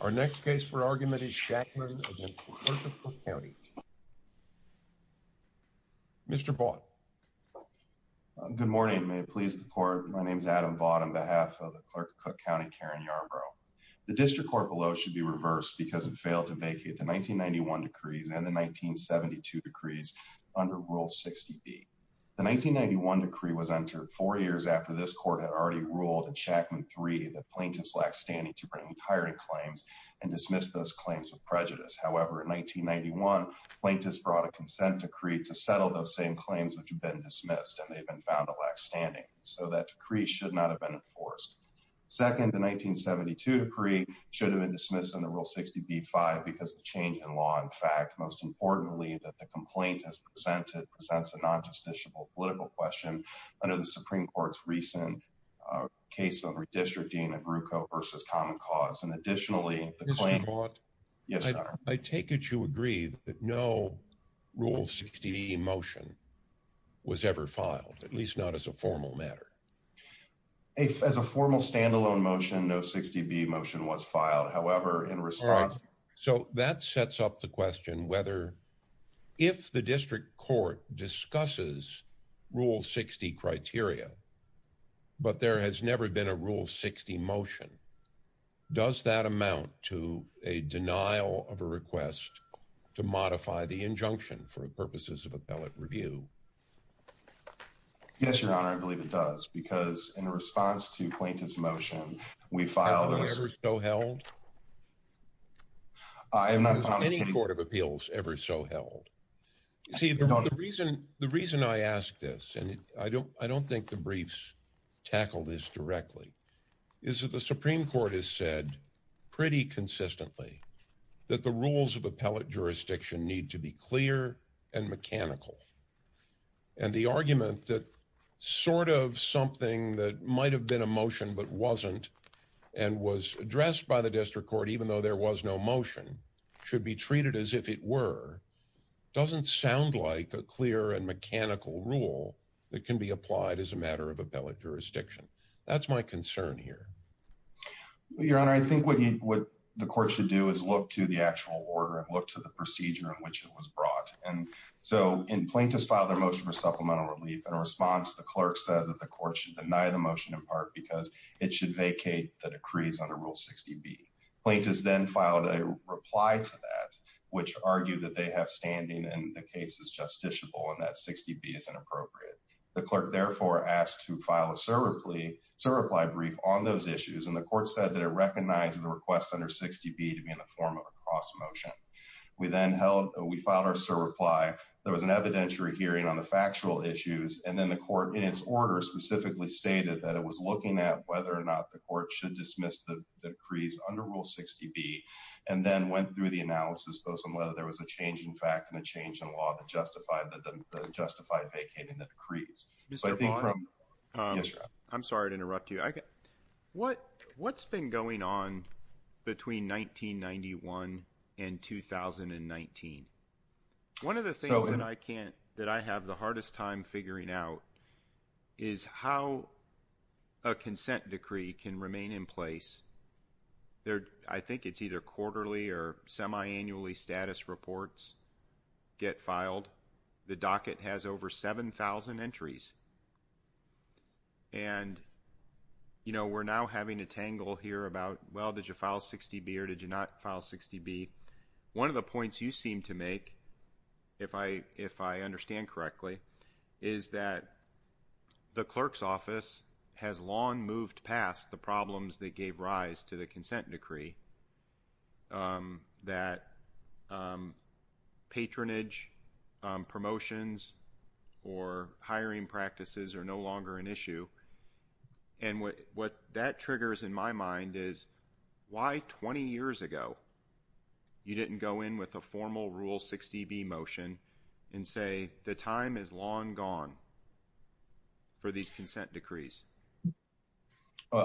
Our next case for argument is Shakman v. Clerk of Cook County. Mr. Vaught. Good morning, may it please the court. My name is Adam Vaught on behalf of the Clerk of Cook County, Karen Yarbrough. The district court below should be reversed because it failed to vacate the 1991 decrees and the 1972 decrees under Rule 60B. The 1991 decree was entered four years after this court had already ruled in Shakman 3 that plaintiffs lacked standing to bring hiring claims and dismiss those claims with prejudice. However, in 1991, plaintiffs brought a consent decree to settle those same claims which have been dismissed and they've been found to lack standing. So that decree should not have been enforced. Second, the 1972 decree should have been dismissed under Rule 60B-5 because the change in law in fact most importantly that the complaint has presented presents a non-justiciable political question under the Supreme Court's recent case of redistricting of RUCO versus common cause. Mr. Vaught, I take it you agree that no Rule 60B motion was ever filed, at least not as a formal matter? As a formal standalone motion, no 60B motion was filed. However, in response... Yes, Your Honor, I believe it does because in response to plaintiff's motion, we filed... Has it ever so held? I have not found... I don't think the briefs tackle this directly, is that the Supreme Court has said pretty consistently that the rules of appellate jurisdiction need to be clear and mechanical. And the argument that sort of something that might have been a motion but wasn't and was addressed by the district court even though there was no motion should be treated as if it were doesn't sound like a clear and mechanical rule that can be applied as a matter of appellate jurisdiction. That's my concern here. Your Honor, I think what the court should do is look to the actual order and look to the procedure in which it was brought. And so in plaintiff's file their motion for supplemental relief. In response, the clerk said that the court should deny the motion in part because it should vacate the decrees under Rule 60B. Plaintiffs then filed a reply to that, which argued that they have standing and the case is justiciable and that 60B is inappropriate. The clerk therefore asked to file a surreply brief on those issues. And the court said that it recognized the request under 60B to be in the form of a cross motion. We then held... We filed our surreply. There was an evidentiary hearing on the factual issues. And then the court in its order specifically stated that it was looking at whether or not the court should dismiss the decrees under Rule 60B. And then went through the analysis post on whether there was a change in fact and a change in law to justify the justified vacating the decrees. Mr. Bond. Yes, Your Honor. I'm sorry to interrupt you. What's been going on between 1991 and 2019? One of the things that I have the hardest time figuring out is how a consent decree can remain in place. I think it's either quarterly or semi-annually status reports get filed. The docket has over 7,000 entries. And we're now having a tangle here about, well, did you file 60B or did you not file 60B? One of the points you seem to make, if I understand correctly, is that the clerk's office has long moved past the problems that gave rise to the consent decree. That patronage, promotions, or hiring practices are no longer an issue. Why, 20 years ago, you didn't go in with a formal Rule 60B motion and say, the time is long gone for these consent decrees?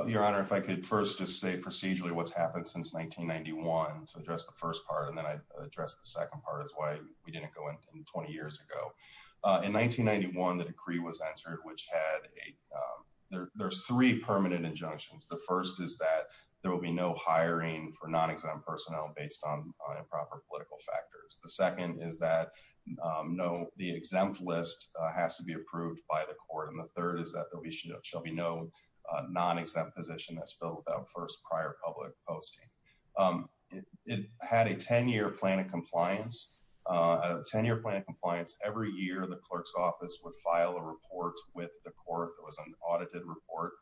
Your Honor, if I could first just say procedurally what's happened since 1991 to address the first part. And then I address the second part is why we didn't go in 20 years ago. In 1991, the decree was entered, which had a, there's three permanent injunctions. The first is that there will be no hiring for non-exempt personnel based on improper political factors. The second is that the exempt list has to be approved by the court. And the third is that there shall be no non-exempt position that's filled without first prior public posting. It had a 10-year plan of compliance. A 10-year plan of compliance, every year, the clerk's office would file a report with the court. It was an audited report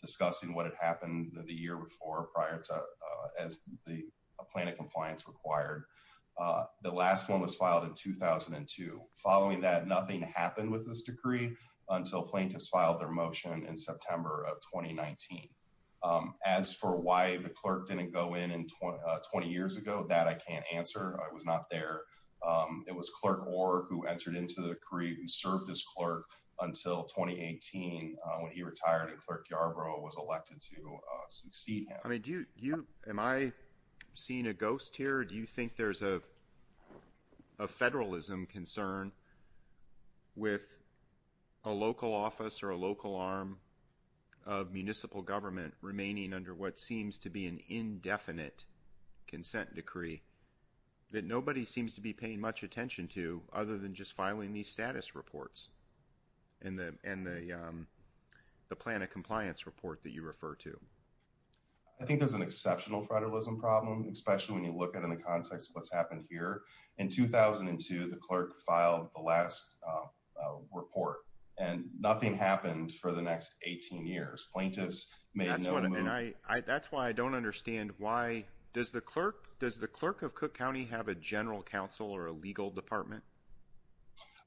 discussing what had happened the year before prior to, as the plan of compliance required. The last one was filed in 2002. Following that, nothing happened with this decree until plaintiffs filed their motion in September of 2019. As for why the clerk didn't go in 20 years ago, that I can't answer. I was not there. It was Clerk Orr who entered into the decree, who served as clerk until 2018, when he retired and Clerk Yarbrough was elected to succeed him. I mean, do you, am I seeing a ghost here? Do you think there's a federalism concern with a local office or a local arm of municipal government remaining under what seems to be an indefinite consent decree that nobody seems to be paying much attention to, other than just filing these status reports and the plan of compliance report that you refer to? I think there's an exceptional federalism problem, especially when you look at it in the context of what's happened here. In 2002, the clerk filed the last report and nothing happened for the next 18 years. Plaintiffs made no move. That's why I don't understand why, does the clerk of Cook County have a general counsel or a legal department?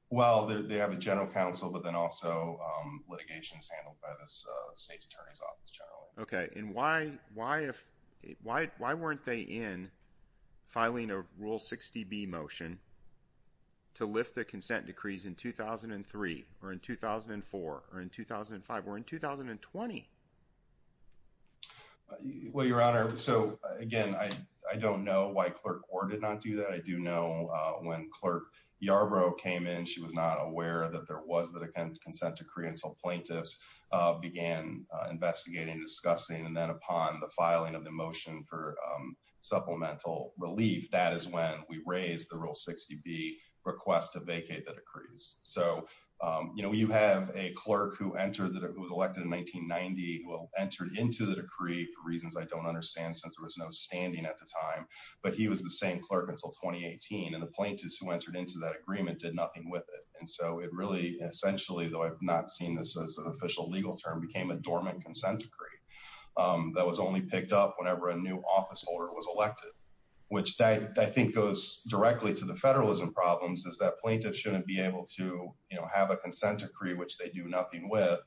Well, they have a general counsel, but then also litigation is handled by the state's attorney's office generally. Okay, and why weren't they in filing a Rule 60B motion to lift the consent decrees in 2003 or in 2004 or in 2005 or in 2020? Well, Your Honor, so again, I don't know why Clerk Orr did not do that. I do know when Clerk Yarbrough came in, she was not aware that there was a consent decree until plaintiffs began investigating, discussing, and then upon the filing of the motion for supplemental relief, that is when we raised the Rule 60B request to vacate the decrees. So you have a clerk who entered, who was elected in 1990, who entered into the decree for reasons I don't understand since there was no standing at the time, but he was the same clerk until 2018 and the plaintiffs who entered into that agreement did nothing with it. And so it really essentially, though I've not seen this as an official legal term, became a dormant consent decree that was only picked up whenever a new office holder was elected, which I think goes directly to the federalism problems, is that plaintiffs shouldn't be able to have a consent decree, which they do nothing with,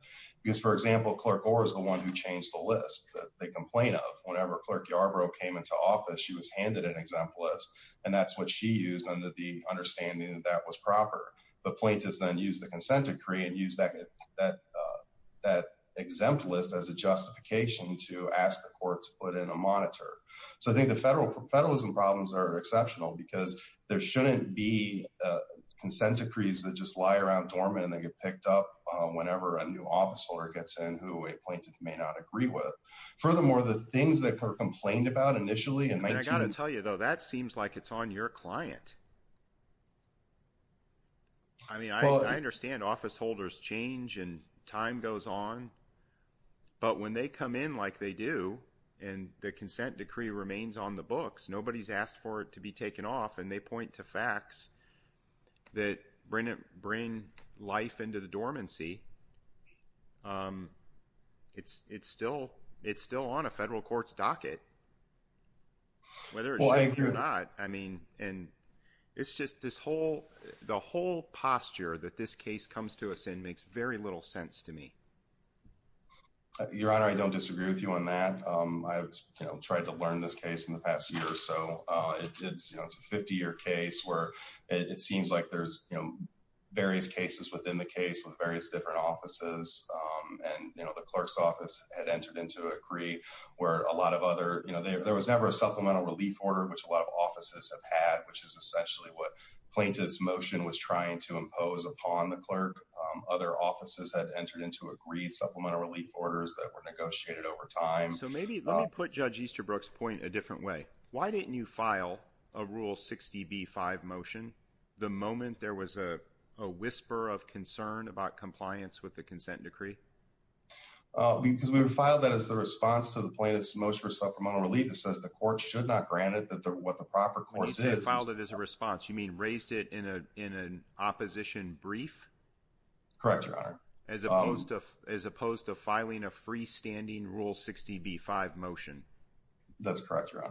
because for example, Clerk Orr is the one who changed the list that they complain of whenever Clerk Yarbrough came into office, she was handed an exempt list, and that's what she used under the understanding that that was proper. The plaintiffs then used the consent decree and used that exempt list as a justification to ask the court to put in a monitor. So I think the federalism problems are exceptional because there shouldn't be consent decrees that just lie around dormant and they get picked up whenever a new office holder gets in who a plaintiff may not agree with. Furthermore, the things that were complained about initially... And I got to tell you though, that seems like it's on your client. I mean, I understand office holders change and time goes on, but when they come in like they do and the consent decree remains on the books, nobody's asked for it to be taken off and point to facts that bring life into the dormancy, it's still on a federal court's docket, whether it should or not. And it's just the whole posture that this case comes to us in makes very little sense to me. Your Honor, I don't disagree with you on that. I've tried to learn this in the past year or so. It's a 50-year case where it seems like there's various cases within the case with various different offices. And the clerk's office had entered into a decree where a lot of other... There was never a supplemental relief order, which a lot of offices have had, which is essentially what plaintiff's motion was trying to impose upon the clerk. Other offices had entered into agreed supplemental relief orders that were negotiated over time. So maybe let me put Judge Easterbrook's point a different way. Why didn't you file a Rule 60b-5 motion the moment there was a whisper of concern about compliance with the consent decree? Because we filed that as the response to the plaintiff's motion for supplemental relief. It says the court should not grant it, but what the proper course is... You filed it as a response. You mean raised it in an opposition brief? Correct, Your Honor. As opposed to filing a freestanding Rule 60b-5 motion? That's correct, Your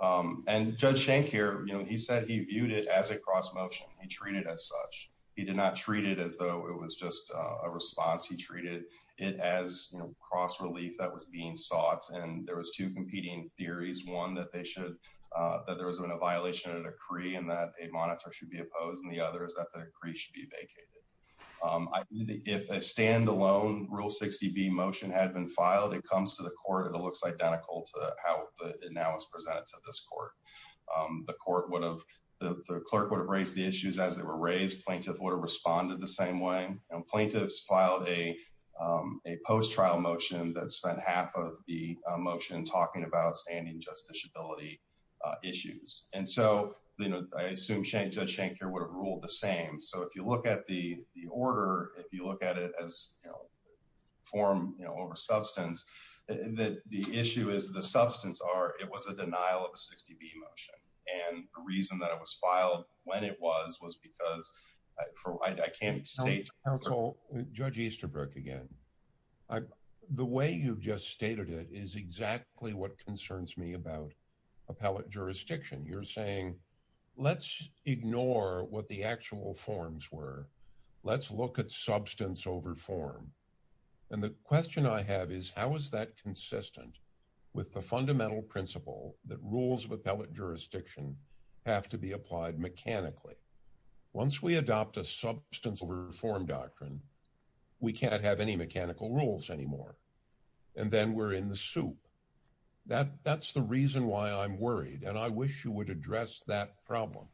Honor. And Judge Shank here, he said he viewed it as a cross-motion. He treated it as such. He did not treat it as though it was just a response. He treated it as cross relief that was being sought. And there was two competing theories. One, that there was a violation of the decree and that a monitor should be opposed. And the other is that the decree should be vacated. If a stand-alone Rule 60b motion had been filed, it comes to the court and it looks identical to how it now is presented to this court. The clerk would have raised the issues as they were raised. Plaintiff would have responded the same way. And plaintiffs filed a post-trial motion that spent half of the motion talking about standing justiciability issues. And so, I assume Judge Shank here would have ruled the same. So, if you look at the order, if you look at it as form over substance, the issue is the substance are it was a denial of a 60b motion. And the reason that it was filed when it was was because I can't state. Judge Easterbrook again, the way you've just stated it is exactly what concerns me about appellate jurisdiction. You're saying, let's ignore what the actual forms were. Let's look at substance over form. And the question I have is, how is that consistent with the fundamental principle that rules of appellate jurisdiction have to be applied mechanically? Once we adopt a substance over form doctrine, we can't have any mechanical rules anymore. And then we're in the I'm worried. And I wish you would address that problem.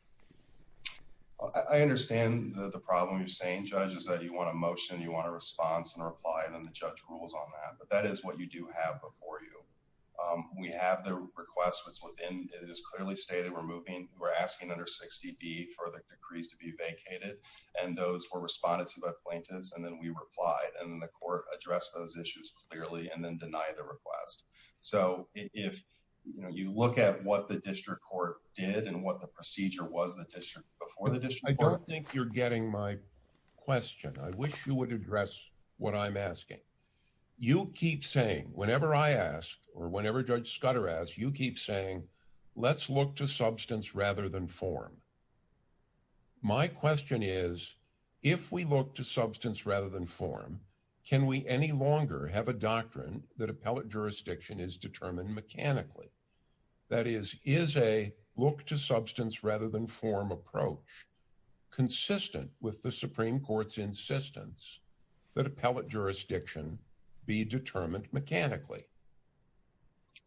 I understand the problem you're saying, Judge, is that you want a motion, you want a response and a reply, and then the judge rules on that. But that is what you do have before you. We have the request that's within. It is clearly stated we're moving. We're asking under 60b for the decrees to be vacated. And those were responded to by plaintiffs. And then we replied. And then the court addressed those issues clearly and then denied the request. So if you look at what the district court did and what the procedure was, the district before the district, I don't think you're getting my question. I wish you would address what I'm asking. You keep saying whenever I ask or whenever Judge Scudder asked, you keep saying, let's look to substance rather than form. My question is, if we look to substance rather than form, can we any longer have a doctrine that appellate jurisdiction is determined mechanically? That is, is a look to substance rather than form approach consistent with the Supreme Court's insistence that appellate jurisdiction be determined mechanically?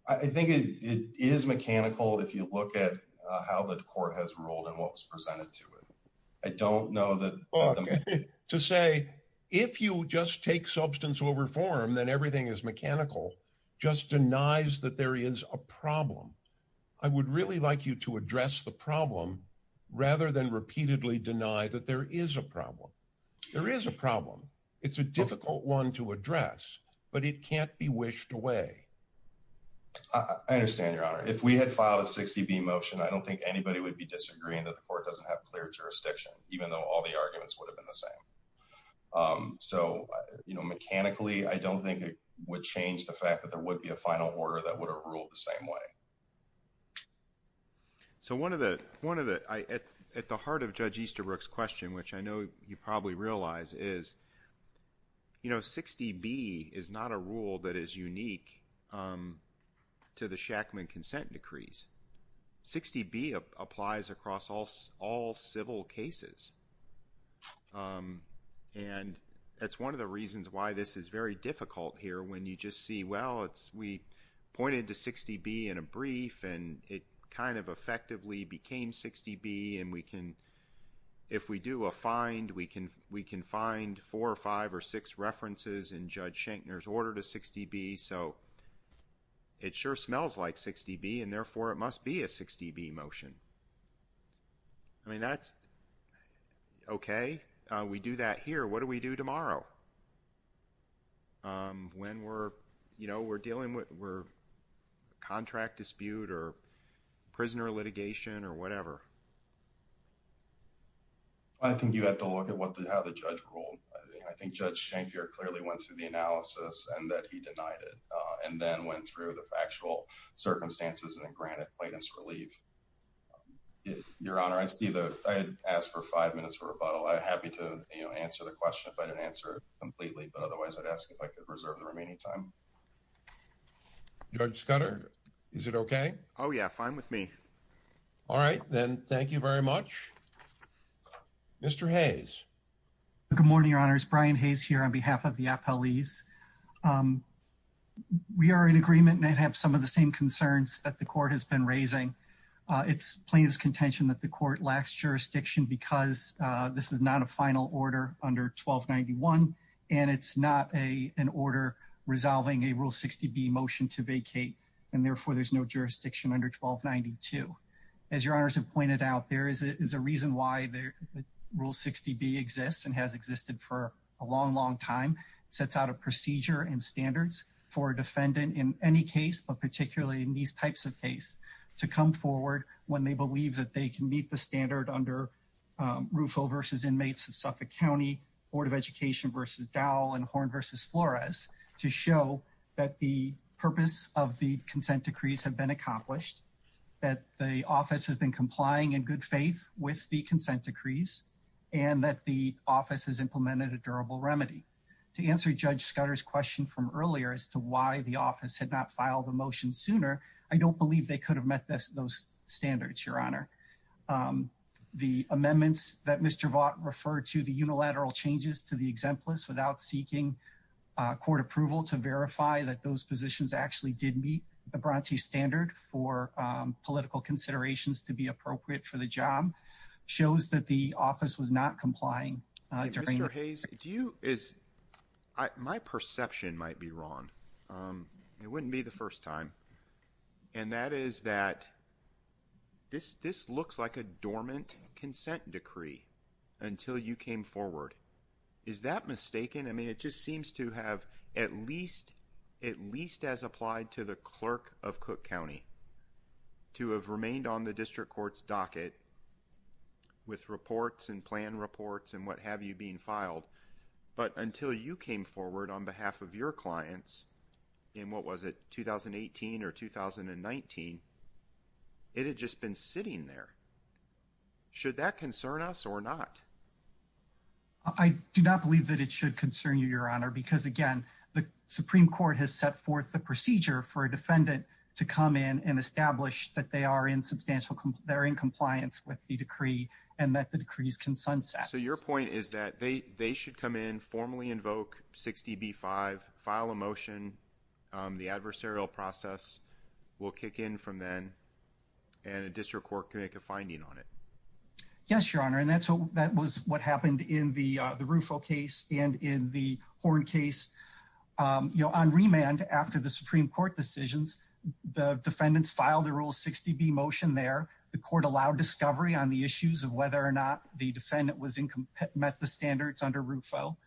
I think it is mechanical. If you look at how the court has ruled and what was presented to it. I don't know that to say if you just take substance over form, then everything is mechanical, just denies that there is a problem. I would really like you to address the problem rather than repeatedly deny that there is a problem. There is a problem. It's a difficult one to address, but it can't be wished away. I understand your honor. If we had filed a 60b motion, I don't think anybody would be even though all the arguments would have been the same. Mechanically, I don't think it would change the fact that there would be a final order that would have ruled the same way. One of the, at the heart of Judge Easterbrook's question, which I know you probably realize, is 60b is not a rule that is unique to the Shackman consent decrees. 60b applies across all civil cases. That's one of the reasons why this is very difficult here, when you just see, well, we pointed to 60b in a brief and it kind of effectively became 60b. If we do a find, we can find four or five or six references in Judge Shankner's order to 60b. So, it sure smells like 60b and therefore it must be a 60b motion. I mean, that's okay. We do that here. What do we do tomorrow? When we're dealing with a contract dispute or prisoner litigation or whatever? I think you have to look at how the judge ruled. I think Judge Shankner clearly went through the analysis and that he denied it and then went through the factual circumstances and then granted plaintiff's relief. Your Honor, I see that I had asked for five minutes for rebuttal. I'm happy to answer the question if I didn't answer it completely, but otherwise I'd ask if I could reserve the remaining time. Judge Scudder, is it okay? Oh yeah, fine with me. All right, then thank you very much. Mr. Hayes. Good morning, Your Honors. Brian Hayes here on behalf of the appellees. We are in agreement and I have some of the same concerns that the Court has been raising. It's plaintiff's contention that the Court lacks jurisdiction because this is not a final order under 1291 and it's not an order resolving a Rule 60b motion to vacate and therefore there's no jurisdiction under 1292. As Your Honors have a long, long time, it sets out a procedure and standards for a defendant in any case, but particularly in these types of case, to come forward when they believe that they can meet the standard under Rufo v. Inmates of Suffolk County, Board of Education v. Dowell, and Horn v. Flores to show that the purpose of the consent decrees have been accomplished, that the office has been complying in good faith with the consent decrees, and that the office has To answer Judge Scudder's question from earlier as to why the office had not filed the motion sooner, I don't believe they could have met those standards, Your Honor. The amendments that Mr. Vaught referred to, the unilateral changes to the exemplars without seeking court approval to verify that those positions actually did meet the Bronte standard for political considerations to be appropriate for the job, shows that the office was not complying. Mr. Hayes, my perception might be wrong. It wouldn't be the first time. And that is that this looks like a dormant consent decree until you came forward. Is that mistaken? I mean, it just seems to have at least as applied to the clerk of Cook County to have remained on filed. But until you came forward on behalf of your clients in, what was it, 2018 or 2019, it had just been sitting there. Should that concern us or not? I do not believe that it should concern you, Your Honor, because again, the Supreme Court has set forth the procedure for a defendant to come in and establish that they are in compliance with the decree and that the decrees can sunset. So your point is that they should come in, formally invoke 60B-5, file a motion, the adversarial process will kick in from then, and a district court can make a finding on it? Yes, Your Honor. And that was what happened in the Rufo case and in the Horn case. On remand, after the Supreme Court decisions, the defendants filed the rule 60B motion there. The court allowed discovery on the issues of whether or not the defendant met the standards under Rufo.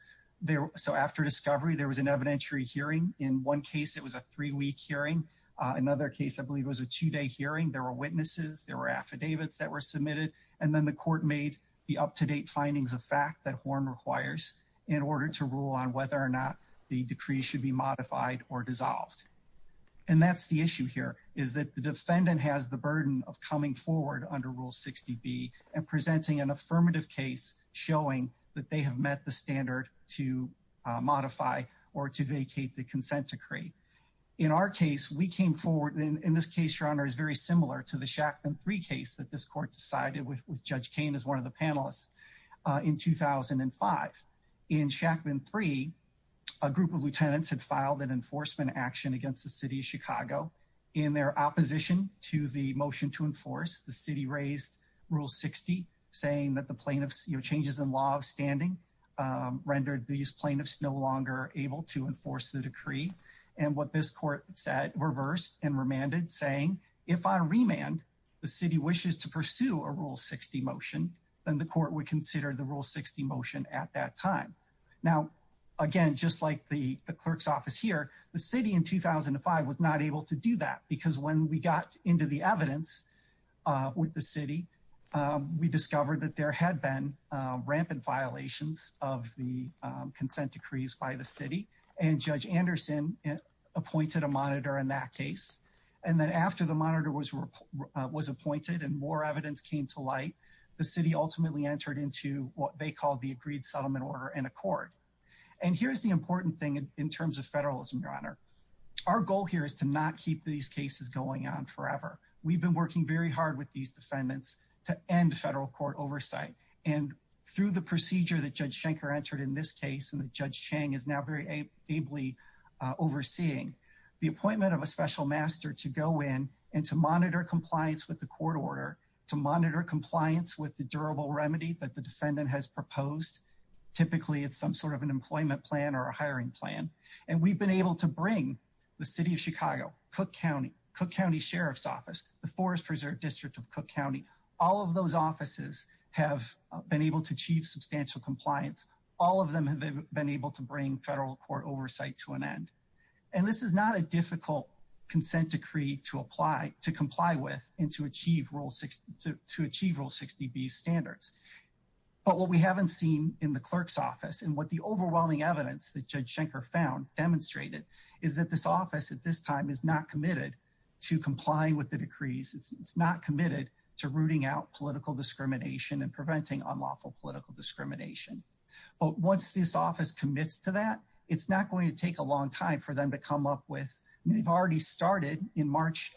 So after discovery, there was an evidentiary hearing. In one case, it was a three-week hearing. Another case, I believe, was a two-day hearing. There were witnesses. There were affidavits that were submitted. And then the court made the up-to-date findings of fact that Horn requires in order to rule on whether or not the decree should be modified or dissolved. And that's the issue here, is that the defendant has the burden of coming forward under Rule 60B and presenting an affirmative case showing that they have met the standard to modify or to vacate the consent decree. In our case, we came forward, and in this case, Your Honor, is very similar to the Shackman 3 case that this court decided with Judge Kane as one of the Chicago. In their opposition to the motion to enforce, the city raised Rule 60, saying that the plaintiffs' changes in law of standing rendered these plaintiffs no longer able to enforce the decree. And what this court said, reversed and remanded, saying, if on remand, the city wishes to pursue a Rule 60 motion, then the court would consider the Rule 60 motion at time. Now, again, just like the clerk's office here, the city in 2005 was not able to do that, because when we got into the evidence with the city, we discovered that there had been rampant violations of the consent decrees by the city. And Judge Anderson appointed a monitor in that case. And then after the monitor was appointed and more evidence came to light, the city ultimately entered into what they called the Agreed Settlement Order and Accord. And here's the important thing in terms of federalism, Your Honor. Our goal here is to not keep these cases going on forever. We've been working very hard with these defendants to end federal court oversight. And through the procedure that Judge Schenker entered in this case and that Judge Chang is now very ably overseeing, the appointment of a special master to go in and to monitor compliance with the court order, to monitor compliance with the durable remedy that the defendant has proposed. Typically, it's some sort of an employment plan or a hiring plan. And we've been able to bring the city of Chicago, Cook County, Cook County Sheriff's Office, the Forest Preserve District of Cook County, all of those offices have been able to achieve substantial compliance. All of them have been able to bring federal court oversight to an end. And this is not a difficult consent decree to comply with and to achieve Rule 60B standards. But what we haven't seen in the clerk's office and what the overwhelming evidence that Judge Schenker found demonstrated is that this office at this time is not committed to complying with the decrees. It's not committed to rooting out political discrimination and preventing unlawful political discrimination. But once this office commits to that, it's not going to take a long time for them to come up with, they've already started in March,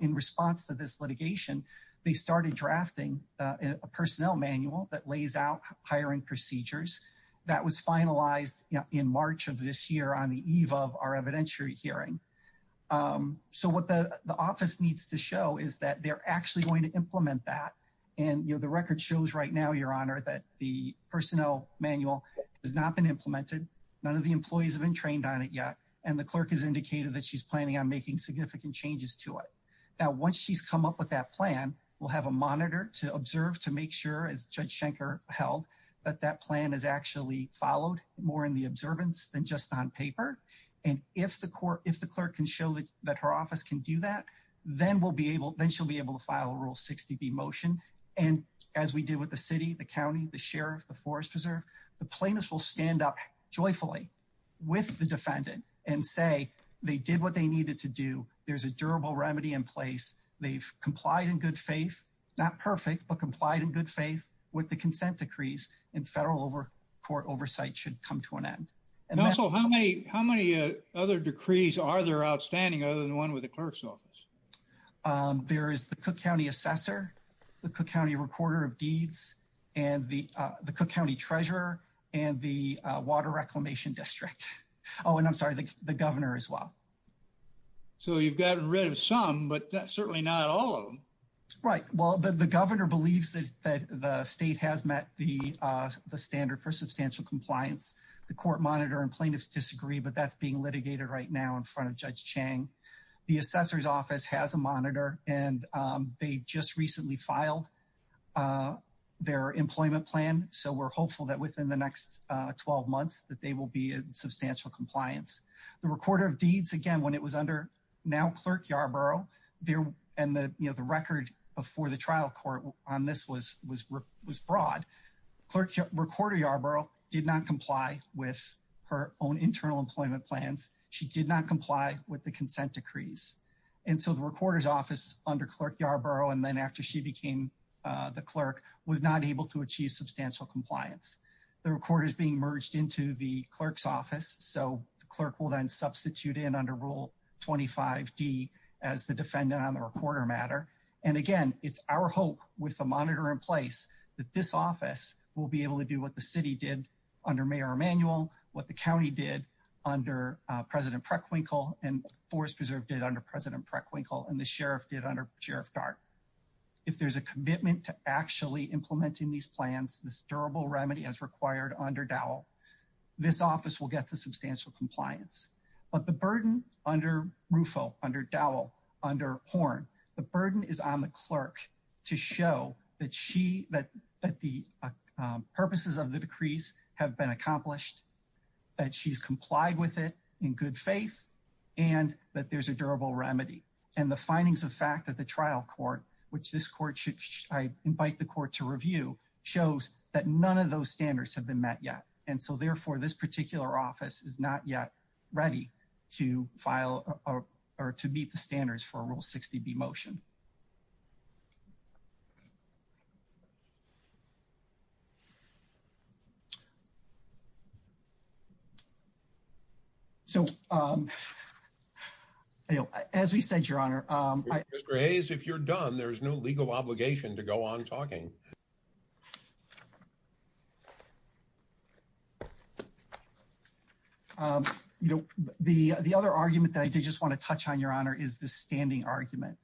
in response to this litigation, they started drafting a personnel manual that lays out hiring procedures. That was finalized in March of this year on the eve of our evidentiary hearing. So what the office needs to show is that they're actually going to implement that. And the record shows right now, Your Honor, that the personnel manual has not been implemented. None of the employees have been trained on it yet. And the clerk has indicated that she's planning on making significant changes to it. Now, once she's come up with that plan, we'll have a monitor to observe to make sure, as Judge Schenker held, that that plan is actually followed more in the observance than just on paper. And if the clerk can show that her office can do that, then we'll then she'll be able to file a Rule 60B motion. And as we did with the city, the county, the sheriff, the forest preserve, the plaintiffs will stand up joyfully with the defendant and say they did what they needed to do. There's a durable remedy in place. They've complied in good faith, not perfect, but complied in good faith with the consent decrees, and federal court oversight should come to an end. And also, how many other decrees are there outstanding other than one with the there is the Cook County Assessor, the Cook County Recorder of Deeds, and the Cook County Treasurer, and the Water Reclamation District. Oh, and I'm sorry, the governor as well. So you've gotten rid of some, but certainly not all of them. Right. Well, the governor believes that the state has met the standard for substantial compliance. The court monitor and plaintiffs disagree, but that's being litigated right now in front of the governor. And they just recently filed their employment plan. So we're hopeful that within the next 12 months that they will be in substantial compliance. The Recorder of Deeds, again, when it was under now Clerk Yarborough, and the record before the trial court on this was broad, Recorder Yarborough did not comply with her own internal employment plans. She did not comply with the consent decrees. And so the recorder's office under Clerk Yarborough, and then after she became the clerk, was not able to achieve substantial compliance. The record is being merged into the clerk's office. So the clerk will then substitute in under Rule 25d as the defendant on the recorder matter. And again, it's our hope with the monitor in place that this office will be able to do what the city did under Mayor Emanuel, what the county did under President Preckwinkle, and Forest Preserve did under President Preckwinkle, and the sheriff did under Sheriff Dart. If there's a commitment to actually implementing these plans, this durable remedy as required under Dowell, this office will get to substantial compliance. But the burden under Rufo, under Dowell, under Horn, the burden is on the clerk to show that the purposes of the decrees have been accomplished, that she's complied with it in good faith, and that there's a durable remedy. And the findings of fact that the trial court, which this court should, I invite the court to review, shows that none of those standards have been met yet. And so therefore this particular office is not yet ready to file or to meet the standards for a Rule 60b motion. So, you know, as we said, Your Honor, Mr. Hayes, if you're done, there's no legal obligation to go on talking. You know, the other argument that I did just want to touch on, Your Honor, is the standing argument.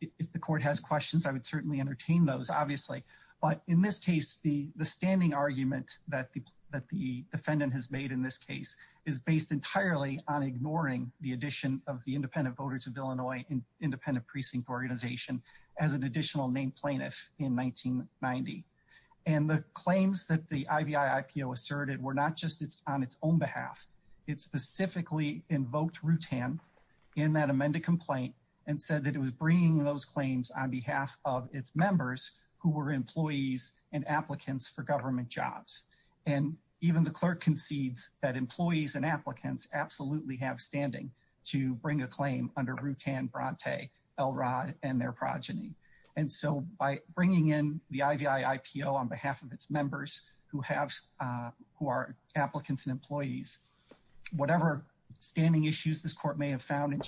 If the court has questions, I would certainly entertain those, obviously. But in this case, the standing argument that the defendant has made in this case is based entirely on ignoring the addition of the Independent Voters of Illinois Independent Precinct Organization as an additional named plaintiff in 1990. And the claims that the IVI-IPO asserted were not just on its own behalf. It specifically invoked Rutan in that amended complaint and said that it was bringing those claims on behalf of its members who were employees and applicants for government jobs. And even the clerk concedes that employees and applicants absolutely have standing to bring a claim under Rutan Bronte, Elrod, and their progeny. And so by bringing in the IVI-IPO on behalf of its members who have, who are applicants and employees, whatever standing issues this court may have found in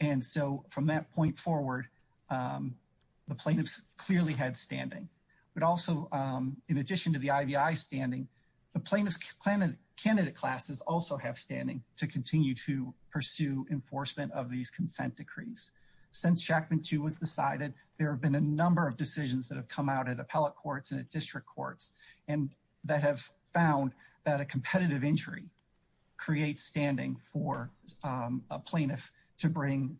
that point forward, the plaintiffs clearly had standing. But also, in addition to the IVI standing, the plaintiff's candidate classes also have standing to continue to pursue enforcement of these consent decrees. Since Shackman 2 was decided, there have been a number of decisions that have come out at appellate courts and at district courts that have found that a competitive injury creates standing for a plaintiff to bring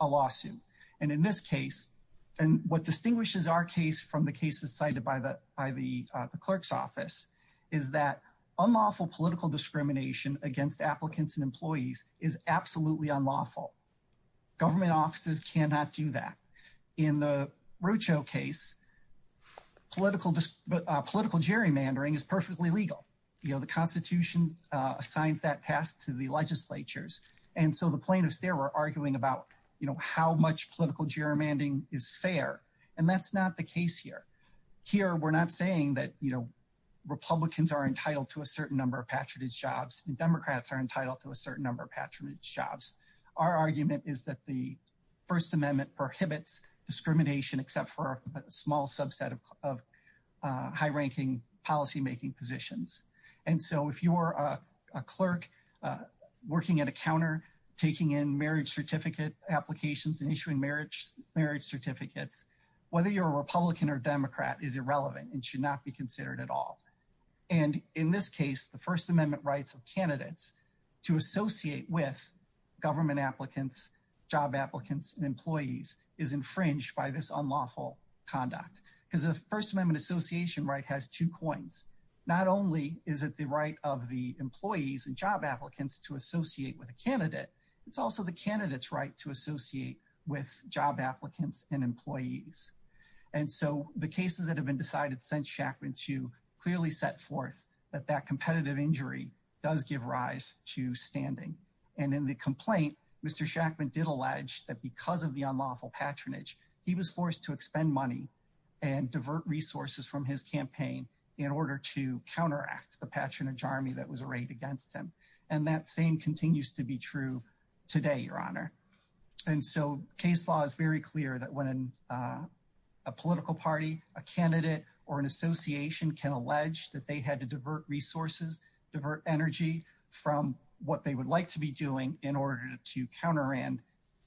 a lawsuit. And in this case, and what distinguishes our case from the cases cited by the by the clerk's office, is that unlawful political discrimination against applicants and employees is absolutely unlawful. Government offices cannot do that. In the Rocho case, political gerrymandering is perfectly legal. You know, the Constitution assigns that task to the legislatures. And so the plaintiffs there were arguing about, you know, how much political gerrymandering is fair. And that's not the case here. Here, we're not saying that, you know, Republicans are entitled to a certain number of patronage jobs and Democrats are entitled to a certain number of patronage jobs. Our argument is that the First Amendment prohibits discrimination except for a small subset of high-ranking policymaking positions. And so if you're a clerk working at a counter, taking in marriage certificate applications and issuing marriage certificates, whether you're a Republican or Democrat is irrelevant and should not be considered at all. And in this case, the First Amendment rights of candidates to associate with government applicants, job has two coins. Not only is it the right of the employees and job applicants to associate with a candidate, it's also the candidate's right to associate with job applicants and employees. And so the cases that have been decided since Shackman to clearly set forth that that competitive injury does give rise to standing. And in the complaint, Mr. Shackman did allege that because of the unlawful patronage, he was forced to expend money and divert resources from his campaign in order to counteract the patronage army that was arrayed against him. And that same continues to be true today, Your Honor. And so case law is very clear that when a political party, a candidate or an association can allege that they had to divert resources, divert energy from what they would like to be doing in order to counter and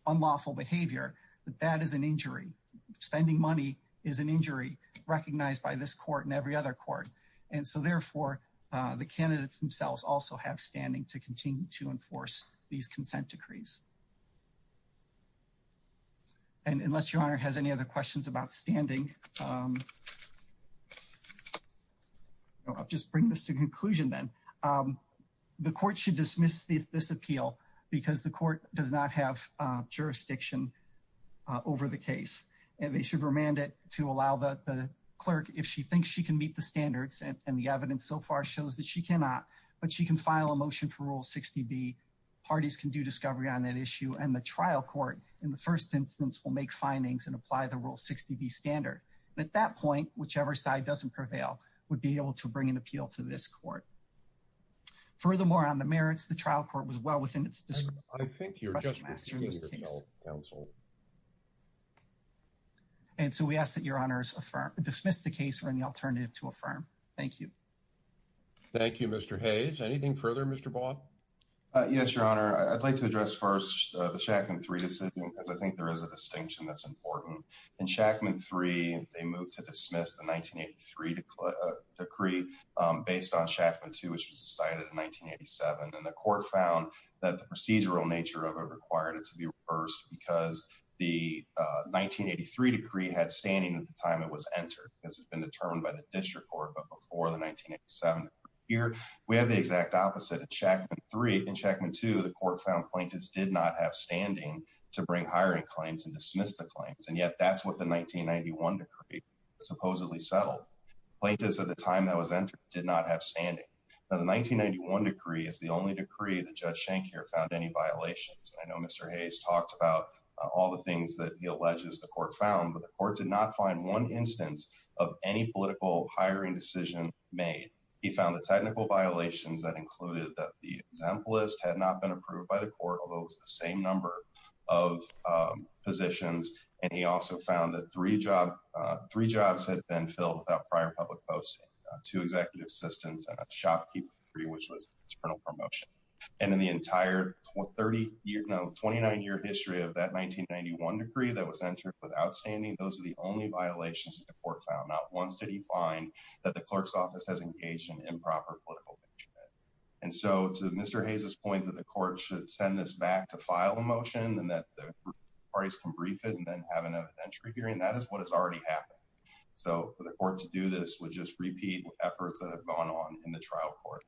unlawful behavior. That is an injury. Spending money is an injury recognized by this court and every other court. And so therefore, the candidates themselves also have standing to continue to enforce these consent decrees. And unless Your Honor has any other questions about standing, I'll just bring this to conclusion. Then the court should dismiss this appeal because the court does not have jurisdiction over the case and they should remand it to allow the clerk if she thinks she can meet the standards and the evidence so far shows that she cannot, but she can file a motion for Rule 60B. Parties can do discovery on that issue and the trial court in the first instance will make findings and apply the Rule 60B standard. At that point, whichever side doesn't prevail would be able to bring an appeal to this court. Furthermore, on the merits, the trial court was well within its discretion. I think you're just repeating yourself, counsel. And so we ask that Your Honor dismiss the case or any alternative to affirm. Thank you. Thank you, Mr. Hayes. Anything further, Mr. Bob? Yes, Your Honor. I'd like to address first the Shackman III decision because I think there is a distinction that's important. In Shackman III, they moved to dismiss the 1983 decree based on 1987 and the court found that the procedural nature of it required it to be reversed because the 1983 decree had standing at the time it was entered because it's been determined by the district court. But before the 1987 here, we have the exact opposite of Shackman III. In Shackman II, the court found plaintiffs did not have standing to bring hiring claims and dismiss the claims. And yet that's what the 1991 decree supposedly settled. Plaintiffs at the time that was entered did not have standing. The 1991 decree is the only decree that Judge Schenker found any violations. I know Mr. Hayes talked about all the things that he alleges the court found, but the court did not find one instance of any political hiring decision made. He found the technical violations that included that the exemplist had not been approved by the court, although it's the same number of positions. And he also found that three jobs had been filled without prior public posting, two executive assistants, and a shopkeeper degree, which was an internal promotion. And in the entire 29-year history of that 1991 decree that was entered with outstanding, those are the only violations that the court found. Not once did he find that the clerk's office has engaged in improper political engagement. And so to Mr. Hayes' point that the court should send this back to file a motion and that the parties can brief it and have an evidentiary hearing, that is what has already happened. So for the court to do this would just repeat efforts that have gone on in the trial court.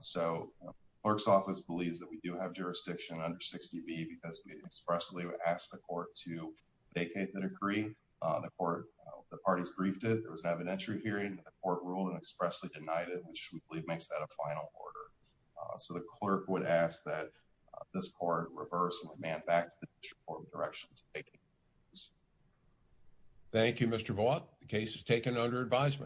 So the clerk's office believes that we do have jurisdiction under 60B because we expressly asked the court to vacate the decree. The parties briefed it. There was an evidentiary hearing. The court ruled and expressly denied it, which we believe makes that a final order. So the clerk would ask that this court reverse the demand back to the district court with directions to vacate the decree. Thank you, Mr. Vaught. The case is taken under advisement.